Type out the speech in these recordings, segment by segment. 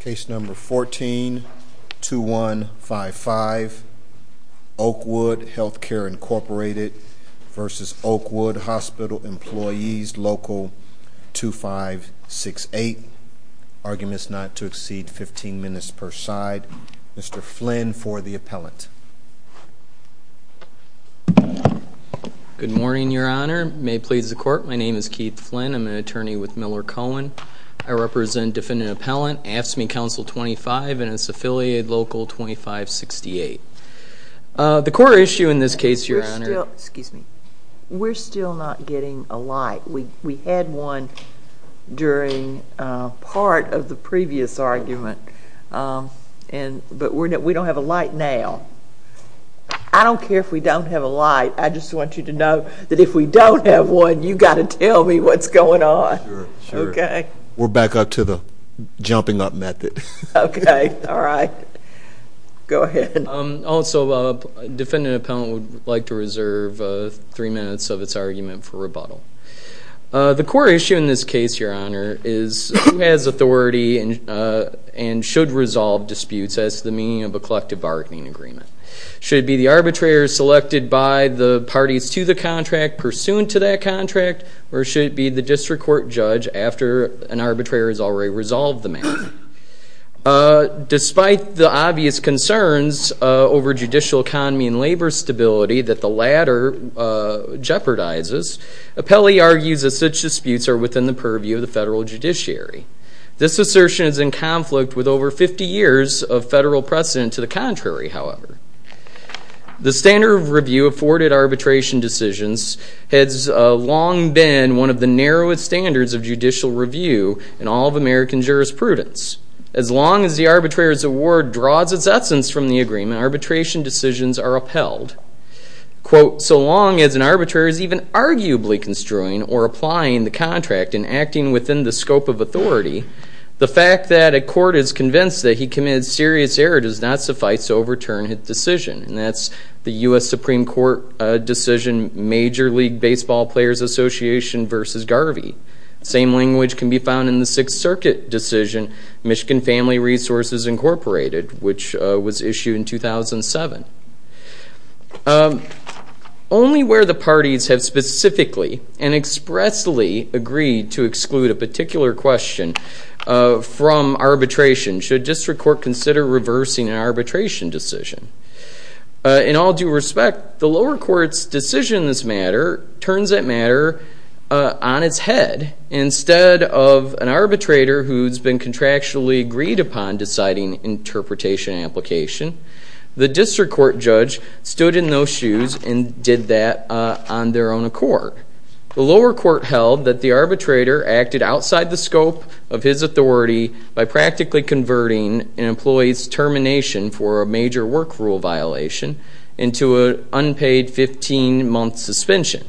Case number 14-2155, Oakwood Healthcare Incorporated v. Oakwood Hospital Employees Local 2568. Arguments not to exceed 15 minutes per side. Mr. Flynn for the appellant. Good morning, Your Honor. May it please the court, my name is Keith Flynn. I'm an attorney with Miller Cohen. I represent defendant appellant AFSCME Council 25 and its affiliate Local 2568. The court issue in this case, Your Honor. Excuse me. We're still not getting a light. We had one during part of the previous argument, but we don't have a light now. I don't care if we don't have a light. I just want you to know that if we don't have one, you've got to tell me what's going on. Sure. We're back up to the jumping up method. Okay. All right. Go ahead. Also, defendant appellant would like to reserve three minutes of its argument for rebuttal. The court issue in this case, Your Honor, is who has authority and should resolve disputes as to the meaning of a collective bargaining agreement. Should it be the arbitrator selected by the parties to the contract pursuant to that contract, or should it be the district court judge after an arbitrator has already resolved the matter? Despite the obvious concerns over judicial economy and labor stability that the latter jeopardizes, appellee argues that such disputes are within the purview of the federal judiciary. This assertion is in conflict with over 50 years of federal precedent to the contrary, however. The standard of review afforded arbitration decisions has long been one of the narrowest standards of judicial review in all of American jurisprudence. As long as the arbitrator's award draws its essence from the agreement, arbitration decisions are upheld. Quote, so long as an arbitrator is even arguably construing or applying the contract and acting within the scope of authority, the fact that a court is convinced that he committed serious error does not suffice to overturn his decision. And that's the U.S. Supreme Court decision, Major League Baseball Players Association versus Garvey. Same language can be found in the Sixth Circuit decision, Michigan Family Resources Incorporated, which was issued in 2007. Only where the parties have specifically and expressly agreed to exclude a particular question from arbitration should district court consider reversing an arbitration decision. In all due respect, the lower court's decision in this matter turns that matter on its head. Instead of an arbitrator who's been contractually agreed upon deciding interpretation and application, the district court judge stood in those shoes and did that on their own accord. The lower court held that the arbitrator acted outside the scope of his authority by practically converting an employee's termination for a major work rule violation into an unpaid 15-month suspension.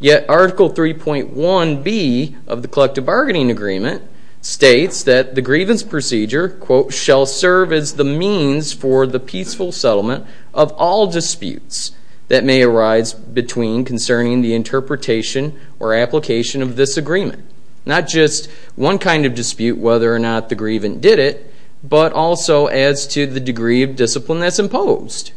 Yet Article 3.1B of the Collective Bargaining Agreement states that the grievance procedure, quote, is the means for the peaceful settlement of all disputes that may arise between concerning the interpretation or application of this agreement. Not just one kind of dispute, whether or not the grievant did it, but also as to the degree of discipline that's imposed.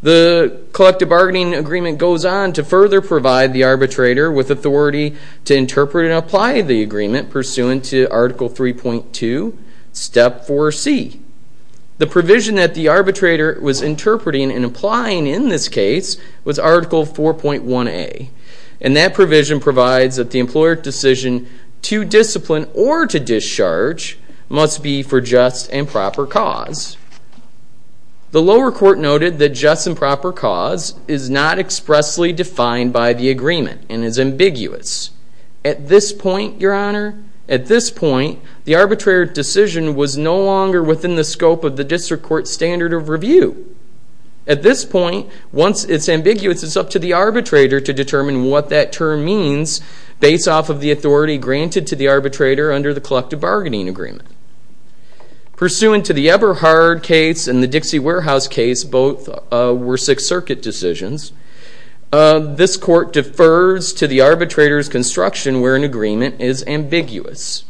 The Collective Bargaining Agreement goes on to further provide the arbitrator with authority to interpret and apply the agreement pursuant to Article 3.2, Step 4C. The provision that the arbitrator was interpreting and applying in this case was Article 4.1A, and that provision provides that the employer's decision to discipline or to discharge must be for just and proper cause. The lower court noted that just and proper cause is not expressly defined by the agreement and is ambiguous. At this point, Your Honor, at this point, the arbitrator's decision was no longer within the scope of the district court's standard of review. At this point, once it's ambiguous, it's up to the arbitrator to determine what that term means based off of the authority granted to the arbitrator under the Collective Bargaining Agreement. Pursuant to the Eberhard case and the Dixie Warehouse case, both were Sixth Circuit decisions, this court defers to the arbitrator's construction where an agreement is ambiguous.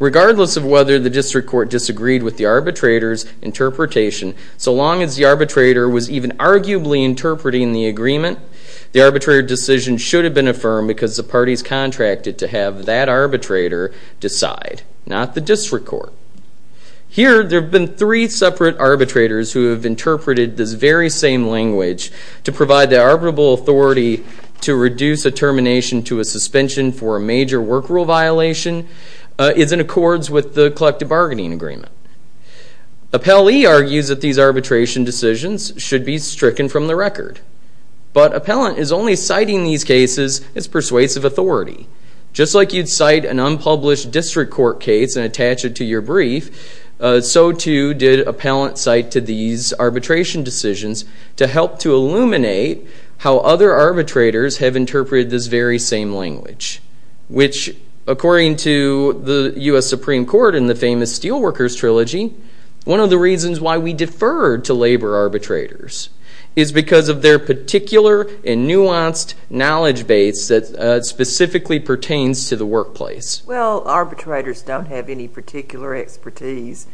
Regardless of whether the district court disagreed with the arbitrator's interpretation, so long as the arbitrator was even arguably interpreting the agreement, the arbitrator decision should have been affirmed because the parties contracted to have that arbitrator decide, not the district court. Here, there have been three separate arbitrators who have interpreted this very same language to provide the arbitrable authority to reduce a termination to a suspension for a major work rule violation is in accords with the Collective Bargaining Agreement. Appellee argues that these arbitration decisions should be stricken from the record, but appellant is only citing these cases as persuasive authority, just like you'd cite an unpublished district court case and attach it to your brief, so too did appellant cite to these arbitration decisions to help to illuminate how other arbitrators have interpreted this very same language, which according to the U.S. Supreme Court in the famous Steelworkers Trilogy, one of the reasons why we defer to labor arbitrators is because of their particular and nuanced knowledge base that specifically pertains to the workplace. Well, arbitrators don't have any particular expertise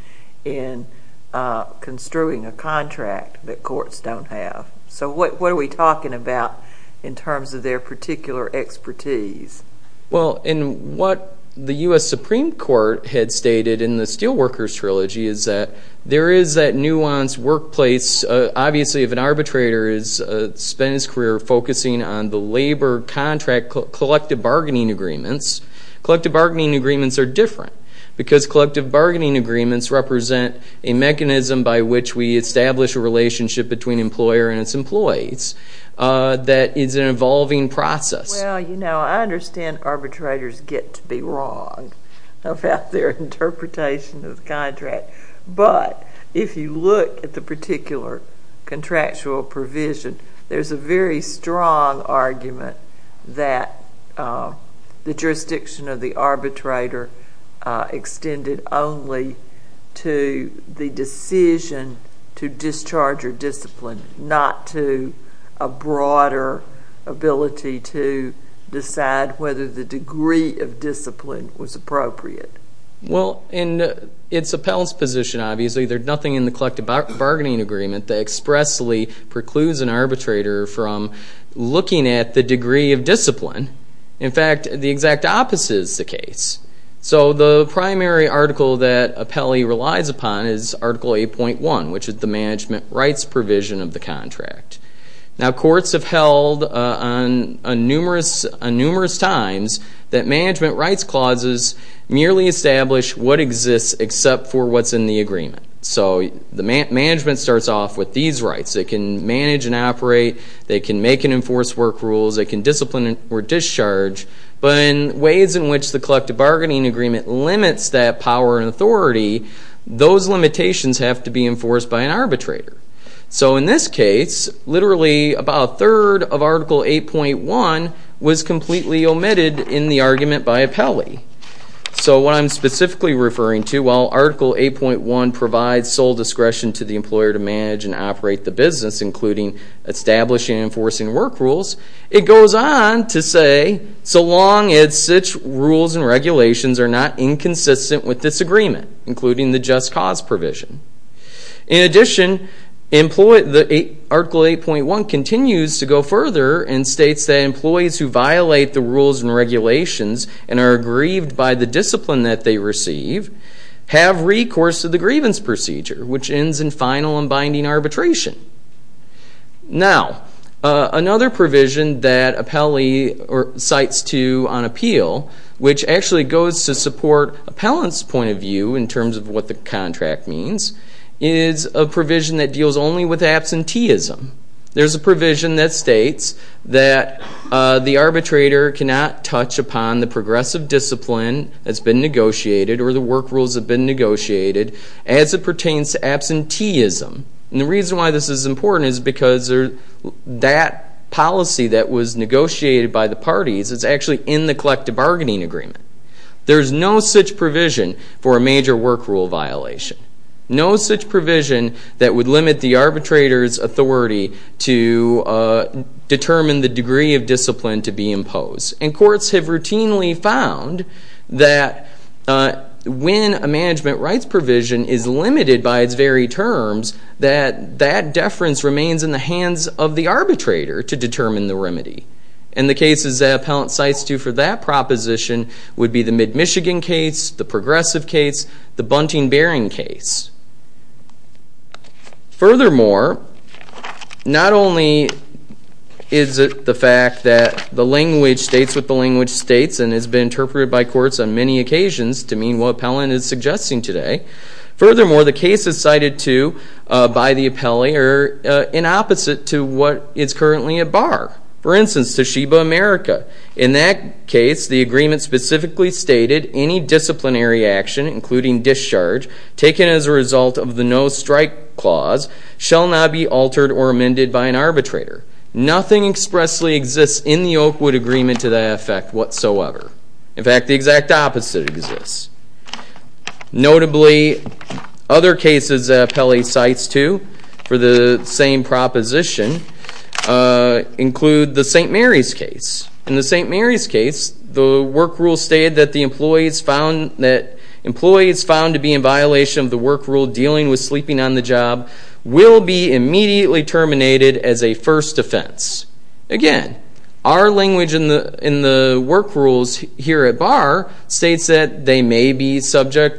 in construing a contract that courts don't have, so what are we talking about in terms of their particular expertise? Well, in what the U.S. Supreme Court had stated in the Steelworkers Trilogy is that there is that nuanced workplace. Obviously, if an arbitrator has spent his career focusing on the labor contract collective bargaining agreements, collective bargaining agreements are different because collective bargaining agreements represent a mechanism by which we establish a relationship between employer and its employees that is an evolving process. Well, you know, I understand arbitrators get to be wrong about their interpretation of the contract, but if you look at the particular contractual provision, there is a very strong argument that the jurisdiction of the arbitrator extended only to the decision to discharge or discipline, not to a broader ability to decide whether the degree of discipline was appropriate. Well, in its appellant's position, obviously, there's nothing in the collective bargaining agreement that expressly precludes an arbitrator from looking at the degree of discipline. In fact, the exact opposite is the case. So the primary article that appellee relies upon is Article 8.1, which is the management rights provision of the contract. Now, courts have held on numerous times that management rights clauses merely establish what exists except for what's in the agreement. So the management starts off with these rights. They can manage and operate. They can make and enforce work rules. They can discipline or discharge. But in ways in which the collective bargaining agreement limits that power and authority, those limitations have to be enforced by an arbitrator. So in this case, literally about a third of Article 8.1 was completely omitted in the argument by appellee. So what I'm specifically referring to, while Article 8.1 provides sole discretion to the employer to manage and operate the business, including establishing and enforcing work rules, it goes on to say so long as such rules and regulations are not inconsistent with this agreement, including the just cause provision. In addition, Article 8.1 continues to go further and states that employees who violate the rules and regulations and are aggrieved by the discipline that they receive have recourse to the grievance procedure, which ends in final and binding arbitration. Now, another provision that appellee cites to on appeal, which actually goes to support appellant's point of view in terms of what the contract means, is a provision that deals only with absenteeism. There's a provision that states that the arbitrator cannot touch upon the progressive discipline that's been negotiated or the work rules that have been negotiated as it pertains to absenteeism. And the reason why this is important is because that policy that was negotiated by the parties is actually in the collective bargaining agreement. There's no such provision for a major work rule violation, no such provision that would limit the arbitrator's authority to determine the degree of discipline to be imposed. And courts have routinely found that when a management rights provision is limited by its very terms, that that deference remains in the hands of the arbitrator to determine the remedy. And the cases that appellant cites to for that proposition would be the MidMichigan case, the progressive case, the Bunting-Bearing case. Furthermore, not only is it the fact that the language states what the language states and has been interpreted by courts on many occasions to mean what appellant is suggesting today, furthermore, the cases cited to by the appellee are in opposite to what is currently at bar. For instance, Toshiba, America. In that case, the agreement specifically stated any disciplinary action, including discharge, taken as a result of the no-strike clause shall not be altered or amended by an arbitrator. Nothing expressly exists in the Oakwood agreement to that effect whatsoever. In fact, the exact opposite exists. Notably, other cases that appellee cites to for the same proposition include the St. Mary's case. In the St. Mary's case, the work rule stated that employees found to be in violation of the work rule dealing with sleeping on the job will be immediately terminated as a first offense. Again, our language in the work rules here at bar states that they may be suspended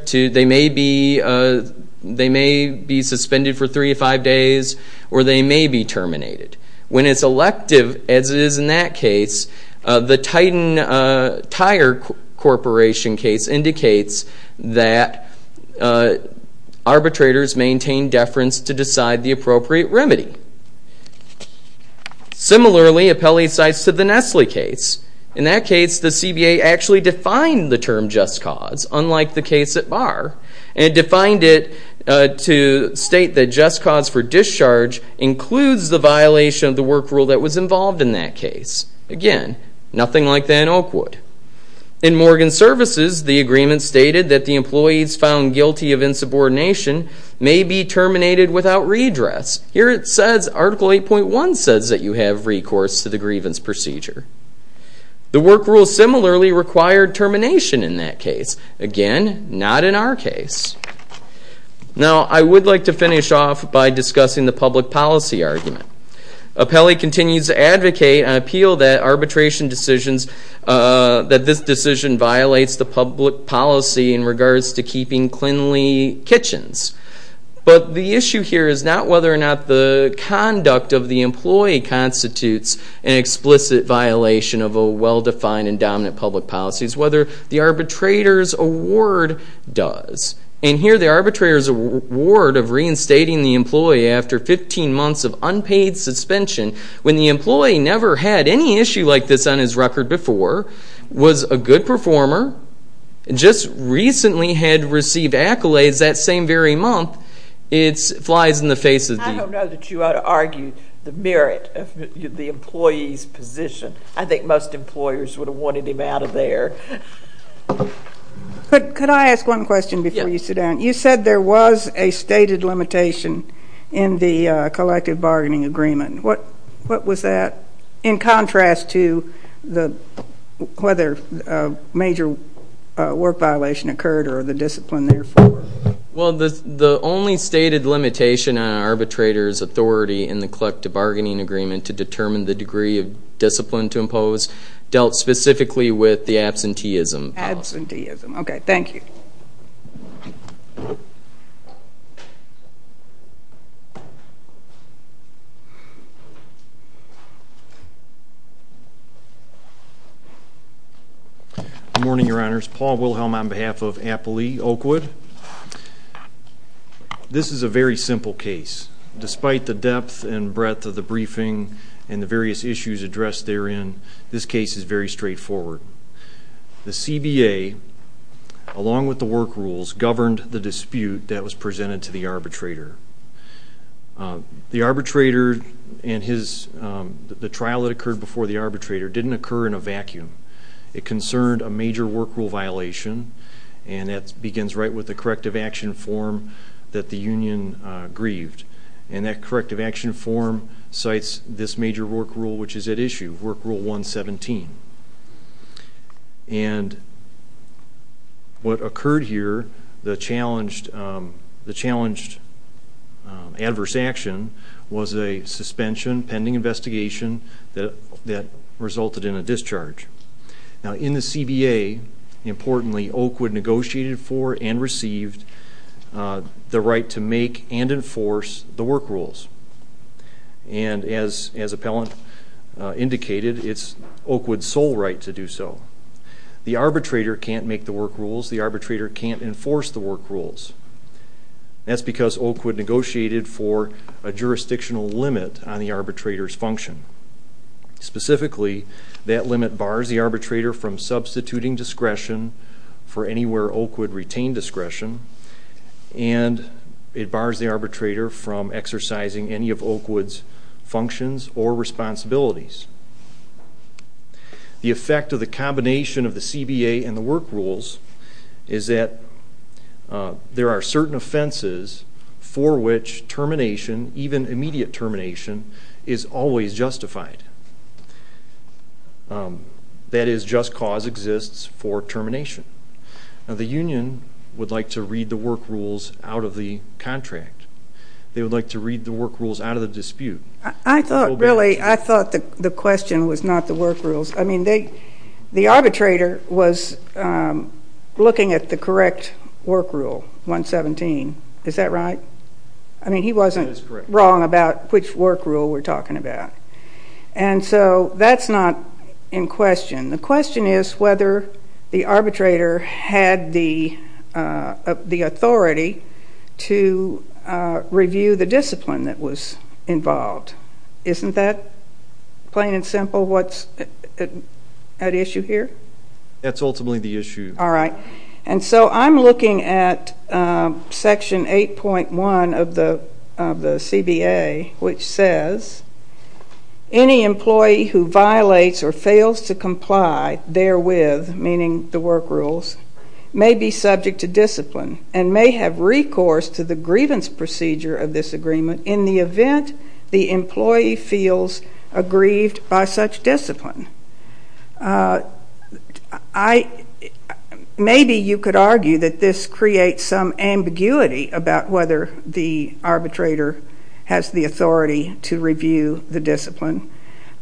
for three to five days or they may be terminated. When it's elective, as it is in that case, the Titan Tire Corporation case indicates that arbitrators maintain deference to decide the appropriate remedy. Similarly, appellee cites to the Nestle case. In that case, the CBA actually defined the term just cause, unlike the case at bar, and defined it to state that just cause for discharge includes the violation of the work rule that was involved in that case. Again, nothing like that in Oakwood. In Morgan Services, the agreement stated that the employees found guilty of insubordination may be terminated without redress. Here it says Article 8.1 says that you have recourse to the grievance procedure. The work rule similarly required termination in that case. Again, not in our case. Now, I would like to finish off by discussing the public policy argument. Appellee continues to advocate and appeal that arbitration decisions, that this decision violates the public policy in regards to keeping cleanly kitchens. But the issue here is not whether or not the conduct of the employee constitutes an explicit violation of a well-defined and dominant public policy. It's whether the arbitrator's award does. And here the arbitrator's award of reinstating the employee after 15 months of unpaid suspension, when the employee never had any issue like this on his record before, was a good performer, and just recently had received accolades that same very month, it flies in the face of the... I don't know that you ought to argue the merit of the employee's position. I think most employers would have wanted him out of there. Could I ask one question before you sit down? You said there was a stated limitation in the collective bargaining agreement. What was that? In contrast to whether a major work violation occurred or the discipline, therefore. Well, the only stated limitation on an arbitrator's authority in the collective bargaining agreement to determine the degree of discipline to impose dealt specifically with the absenteeism policy. Absenteeism. Okay, thank you. Good morning, Your Honors. Paul Wilhelm on behalf of Appley Oakwood. This is a very simple case. Despite the depth and breadth of the briefing and the various issues addressed therein, this case is very straightforward. The CBA, along with the work rules, governed the dispute that was presented to the arbitrator. The arbitrator and his... The dispute that occurred before the arbitrator didn't occur in a vacuum. It concerned a major work rule violation, and that begins right with the corrective action form that the union grieved. And that corrective action form cites this major work rule which is at issue, Work Rule 117. And what occurred here, the challenged adverse action was a suspension pending investigation that resulted in a discharge. Now, in the CBA, importantly, Oakwood negotiated for and received the right to make and enforce the work rules. And as Appellant indicated, it's Oakwood's sole right to do so. The arbitrator can't make the work rules. The arbitrator can't enforce the work rules. That's because Oakwood negotiated for a jurisdictional limit on the arbitrator's function. Specifically, that limit bars the arbitrator from substituting discretion for anywhere Oakwood retained discretion, and it bars the arbitrator from exercising any of Oakwood's functions or responsibilities. The effect of the combination of the CBA and the work rules is that there are certain offenses for which termination, even immediate termination, is always justified. That is, just cause exists for termination. Now, the union would like to read the work rules out of the contract. They would like to read the work rules out of the dispute. I thought, really, I thought the question was not the work rules. I mean, the arbitrator was looking at the correct work rule, 117. Is that right? I mean, he wasn't wrong about which work rule we're talking about. And so that's not in question. The question is whether the arbitrator had the authority to review the discipline that was involved. Isn't that, plain and simple, what's at issue here? That's ultimately the issue. All right. And so I'm looking at Section 8.1 of the CBA, which says any employee who violates or fails to comply therewith, meaning the work rules, may be subject to discipline in the event the employee feels aggrieved by such discipline. Maybe you could argue that this creates some ambiguity about whether the arbitrator has the authority to review the discipline.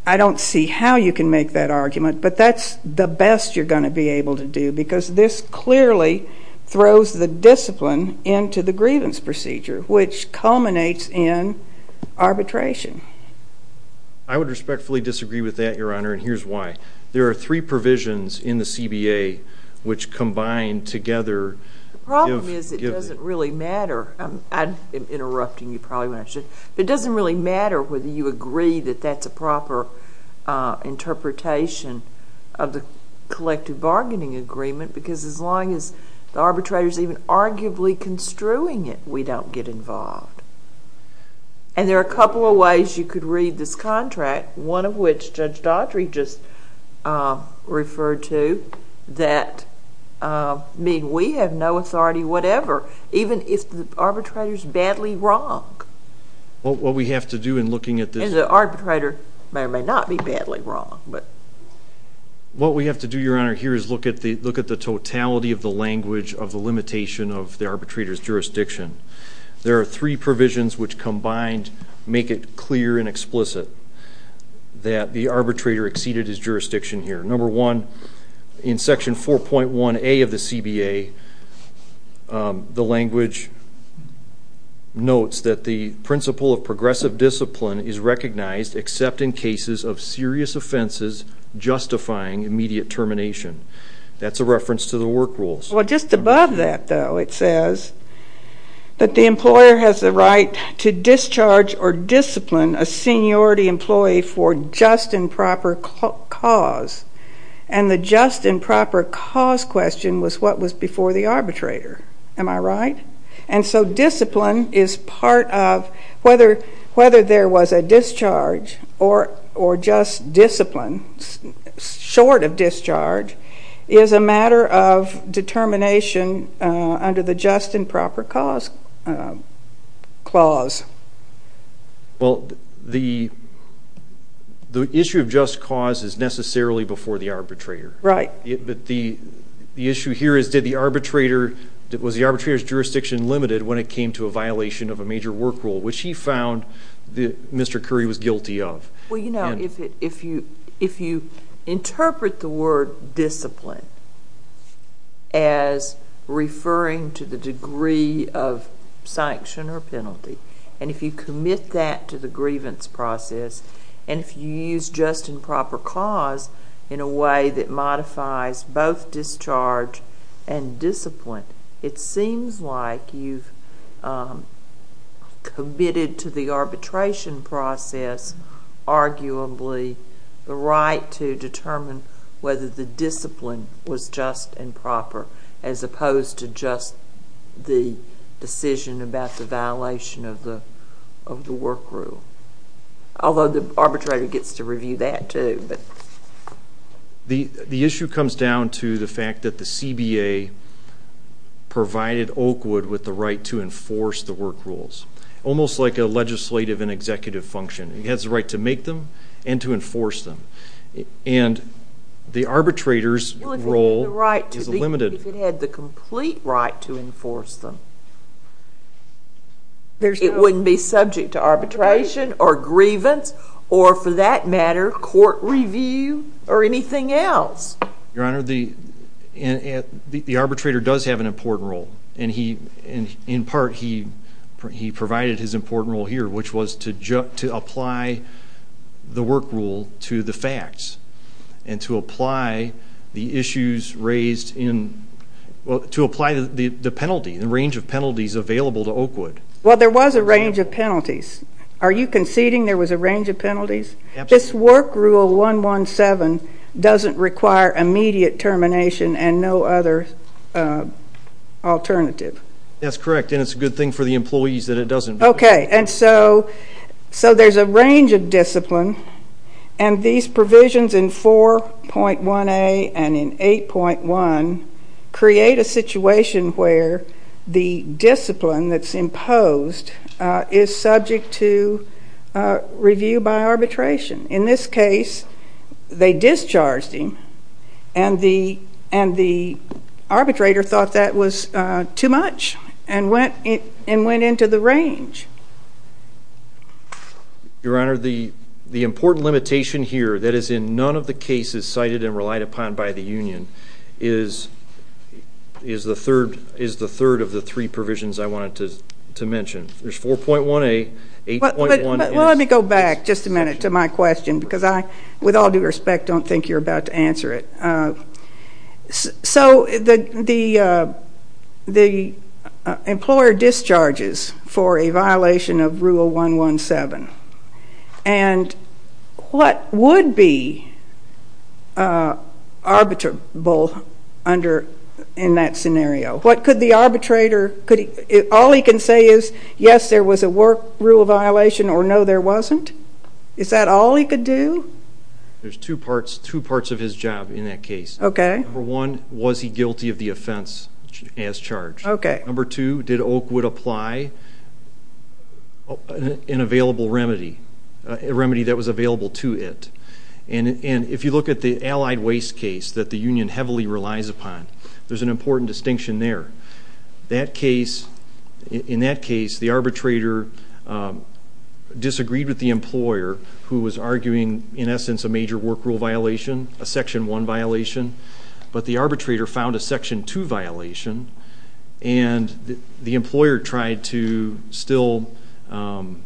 I don't see how you can make that argument, but that's the best you're going to be able to do because this clearly throws the discipline into the grievance procedure, which culminates in arbitration. I would respectfully disagree with that, Your Honor, and here's why. There are three provisions in the CBA which combine together. The problem is it doesn't really matter. I'm interrupting you probably when I should. It doesn't really matter whether you agree that that's a proper interpretation of the collective bargaining agreement because as long as the arbitrator is even arguably construing it, we don't get involved. And there are a couple of ways you could read this contract, one of which Judge Daughtry just referred to, that mean we have no authority whatever, even if the arbitrator is badly wrong. What we have to do in looking at this... And the arbitrator may or may not be badly wrong. What we have to do, Your Honor, here is look at the totality of the language of the limitation of the arbitrator's jurisdiction. There are three provisions which combined make it clear and explicit that the arbitrator exceeded his jurisdiction here. Number one, in Section 4.1A of the CBA, the language notes that the principle of progressive discipline is recognized except in cases of serious offenses justifying immediate termination. That's a reference to the work rules. Well, just above that, though, it says that the employer has the right to discharge or discipline a seniority employee for just and proper cause. And the just and proper cause question was what was before the arbitrator. Am I right? And so discipline is part of whether there was a discharge or just discipline short of discharge is a matter of determination under the just and proper cause clause. Well, the issue of just cause is necessarily before the arbitrator. Right. But the issue here is was the arbitrator's jurisdiction limited when it came to a violation of a major work rule, which he found that Mr. Curry was guilty of. Well, you know, if you interpret the word discipline as referring to the degree of sanction or penalty, and if you commit that to the grievance process, and if you use just and proper cause in a way that modifies both discharge and discipline, it seems like you've committed to the arbitration process, arguably the right to determine whether the discipline was just and proper as opposed to just the decision about the violation of the work rule. Although the arbitrator gets to review that, too. The issue comes down to the fact that the CBA provided Oakwood with the right to enforce the work rules, almost like a legislative and executive function. It has the right to make them and to enforce them. And the arbitrator's role is limited. Well, if it had the complete right to enforce them, it wouldn't be subject to arbitration or grievance or, for that matter, court review or anything else. Your Honor, the arbitrator does have an important role, and in part he provided his important role here, which was to apply the work rule to the facts and to apply the issues raised in the penalty, the range of penalties available to Oakwood. Well, there was a range of penalties. Are you conceding there was a range of penalties? Absolutely. This work rule 117 doesn't require immediate termination and no other alternative. That's correct, and it's a good thing for the employees that it doesn't. Okay. And so there's a range of discipline, and these provisions in 4.1a and in 8.1 create a situation where the discipline that's imposed is subject to review by arbitration. In this case, they discharged him, and the arbitrator thought that was too much and went into the range. Your Honor, the important limitation here that is in none of the cases cited and relied upon by the union is the third of the three provisions I wanted to mention. There's 4.1a, 8.1. Well, let me go back just a minute to my question because I, with all due respect, don't think you're about to answer it. So the employer discharges for a violation of Rule 117, and what would be arbitrable in that scenario? What could the arbitrator, all he can say is, yes, there was a work rule violation or no, there wasn't? Is that all he could do? There's two parts of his job in that case. Okay. Number one, was he guilty of the offense as charged? Okay. Number two, did Oakwood apply an available remedy, a remedy that was available to it? And if you look at the allied waste case that the union heavily relies upon, there's an important distinction there. In that case, the arbitrator disagreed with the employer who was arguing, in essence, a major work rule violation, a Section 1 violation, but the arbitrator found a Section 2 violation and the employer tried to still, in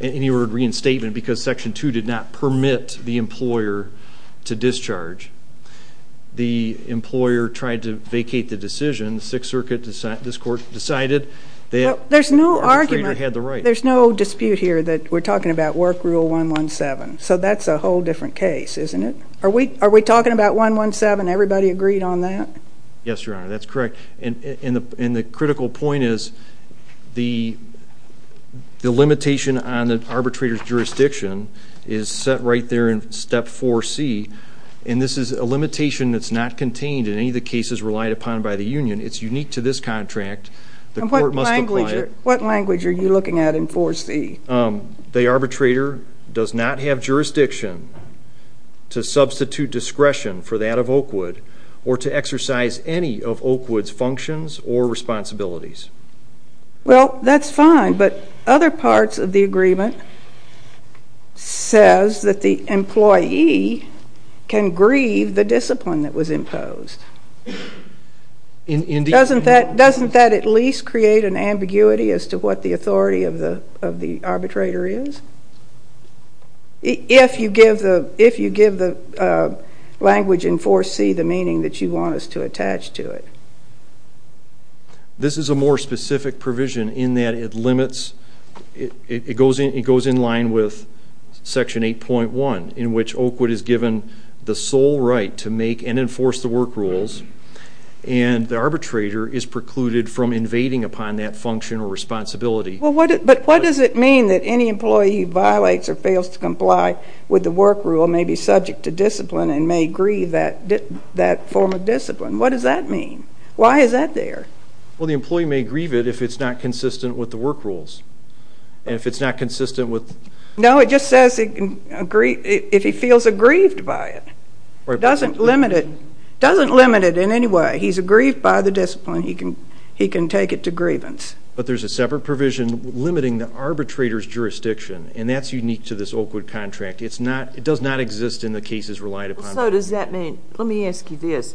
any word, reinstatement because Section 2 did not permit the employer to discharge. The employer tried to vacate the decision. The Sixth Circuit, this court, decided that the arbitrator had the right. There's no argument. There's no dispute here that we're talking about Work Rule 117. So that's a whole different case, isn't it? Are we talking about 117? Everybody agreed on that? Yes, Your Honor, that's correct. And the critical point is the limitation on the arbitrator's jurisdiction is set right there in Step 4C, and this is a limitation that's not contained in any of the cases relied upon by the union. It's unique to this contract. What language are you looking at in 4C? The arbitrator does not have jurisdiction to substitute discretion for that of Oakwood or to exercise any of Oakwood's functions or responsibilities. Well, that's fine, but other parts of the agreement says that the employee can grieve the discipline that was imposed. Doesn't that at least create an ambiguity as to what the authority of the arbitrator is? If you give the language in 4C the meaning that you want us to attach to it. This is a more specific provision in that it goes in line with Section 8.1, in which Oakwood is given the sole right to make and enforce the work rules, and the arbitrator is precluded from invading upon that function or responsibility. But what does it mean that any employee who violates or fails to comply with the work rule may be subject to discipline and may grieve that form of discipline? What does that mean? Why is that there? Well, the employee may grieve it if it's not consistent with the work rules, and if it's not consistent with— No, it just says if he feels aggrieved by it. It doesn't limit it in any way. He's aggrieved by the discipline. He can take it to grievance. But there's a separate provision limiting the arbitrator's jurisdiction, and that's unique to this Oakwood contract. It does not exist in the cases relied upon. So does that mean—let me ask you this.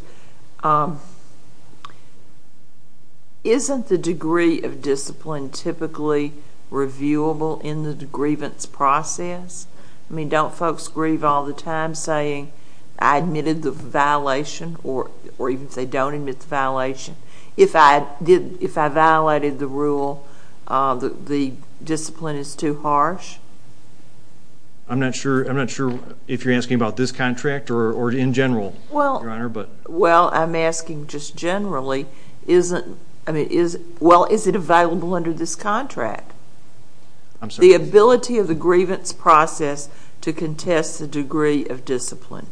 Isn't the degree of discipline typically reviewable in the grievance process? I mean, don't folks grieve all the time saying I admitted the violation or even if they don't admit the violation? If I violated the rule, the discipline is too harsh? I'm not sure if you're asking about this contract or in general, Your Honor. Well, I'm asking just generally, well, is it available under this contract? The ability of the grievance process to contest the degree of discipline.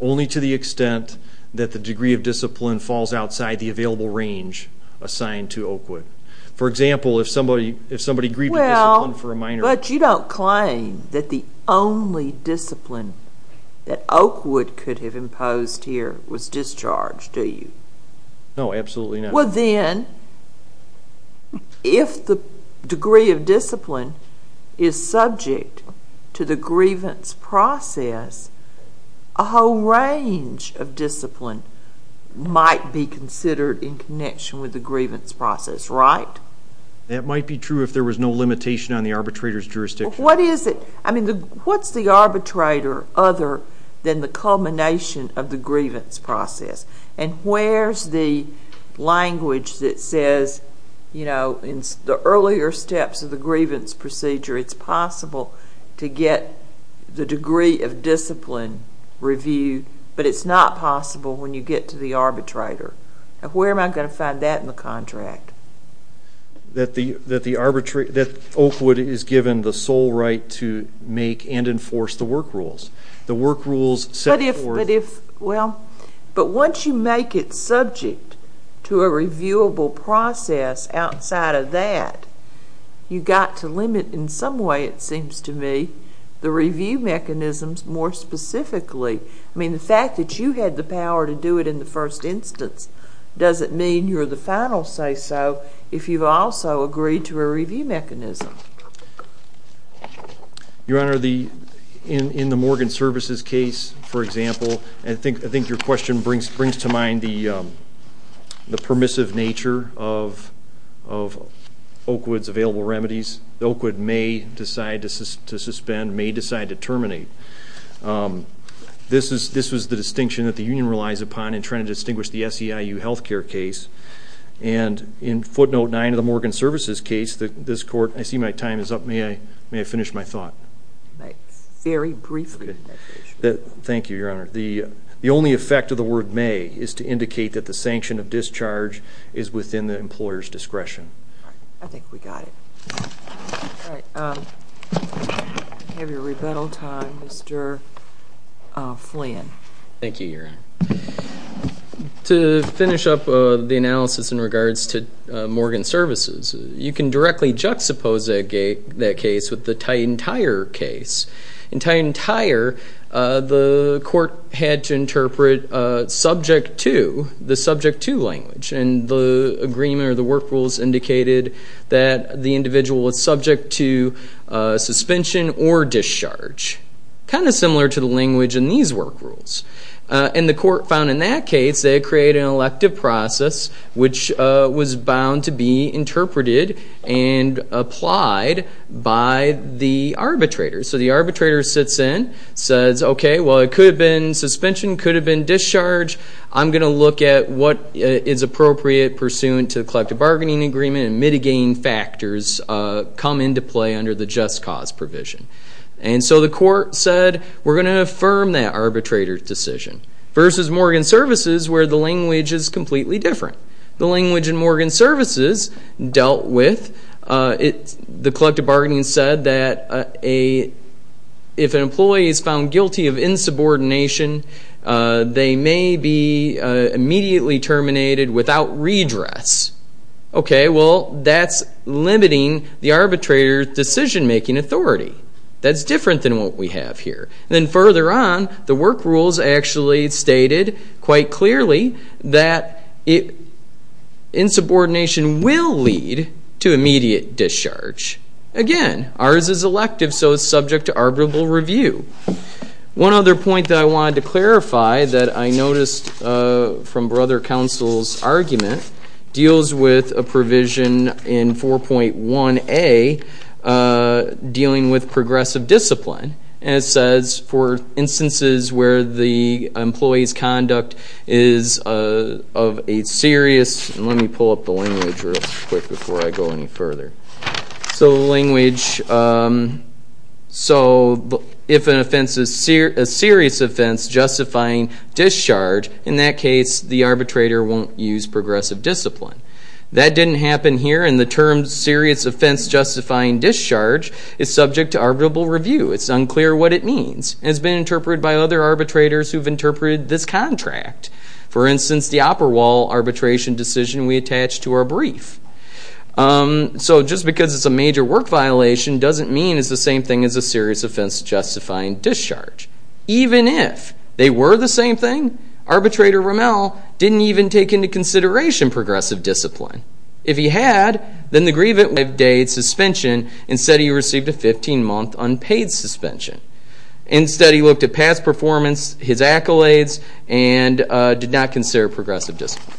Only to the extent that the degree of discipline falls outside the available range assigned to Oakwood. For example, if somebody grieved the discipline for a minor— Well, but you don't claim that the only discipline that Oakwood could have imposed here was discharge, do you? No, absolutely not. Well, then, if the degree of discipline is subject to the grievance process, a whole range of discipline might be considered in connection with the grievance process, right? That might be true if there was no limitation on the arbitrator's jurisdiction. What is it? I mean, what's the arbitrator other than the culmination of the grievance process? And where's the language that says, you know, in the earlier steps of the grievance procedure, it's possible to get the degree of discipline reviewed, but it's not possible when you get to the arbitrator. Where am I going to find that in the contract? That Oakwood is given the sole right to make and enforce the work rules. The work rules set forth— But once you make it subject to a reviewable process outside of that, you've got to limit in some way, it seems to me, the review mechanisms more specifically. I mean, the fact that you had the power to do it in the first instance doesn't mean you're the final say-so if you've also agreed to a review mechanism. Your Honor, in the Morgan Services case, for example, I think your question brings to mind the permissive nature of Oakwood's available remedies. Oakwood may decide to suspend, may decide to terminate. This was the distinction that the union relies upon in trying to distinguish the SEIU health care case. And in footnote 9 of the Morgan Services case, this court—I see my time is up. May I finish my thought? Very briefly. Thank you, Your Honor. The only effect of the word may is to indicate that the sanction of discharge is within the employer's discretion. I think we got it. All right. You have your rebuttal time, Mr. Flynn. Thank you, Your Honor. To finish up the analysis in regards to Morgan Services, you can directly juxtapose that case with the Titan Tire case. In Titan Tire, the court had to interpret subject to, the subject to language, and the agreement or the work rules indicated that the individual was subject to suspension or discharge, kind of similar to the language in these work rules. And the court found in that case they had created an elective process which was bound to be interpreted and applied by the arbitrator. So the arbitrator sits in, says, okay, well it could have been suspension, could have been discharge. I'm going to look at what is appropriate pursuant to the collective bargaining agreement and mitigating factors come into play under the just cause provision. And so the court said we're going to affirm that arbitrator's decision versus Morgan Services where the language is completely different. The language in Morgan Services dealt with, the collective bargaining said that if an employee is found guilty of insubordination, they may be immediately terminated without redress. Okay, well, that's limiting the arbitrator's decision-making authority. That's different than what we have here. And then further on, the work rules actually stated quite clearly that insubordination will lead to immediate discharge. Again, ours is elective, so it's subject to arbitrable review. One other point that I wanted to clarify that I noticed from Brother Counsel's argument deals with a provision in 4.1a dealing with progressive discipline. And it says for instances where the employee's conduct is of a serious, and let me pull up the language real quick before I go any further. So the language, so if an offense is a serious offense justifying discharge, in that case, the arbitrator won't use progressive discipline. That didn't happen here, and the term serious offense justifying discharge is subject to arbitrable review. It's unclear what it means. It's been interpreted by other arbitrators who've interpreted this contract. For instance, the upper wall arbitration decision we attached to our brief. So just because it's a major work violation doesn't mean it's the same thing as a serious offense justifying discharge. Even if they were the same thing, arbitrator Rommel didn't even take into consideration progressive discipline. If he had, then the grievant would have delayed suspension instead he received a 15-month unpaid suspension. Instead he looked at past performance, his accolades, and did not consider progressive discipline.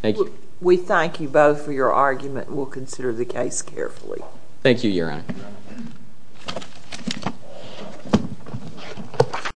Thank you. We thank you both for your argument. We'll consider the case carefully. Thank you, Your Honor.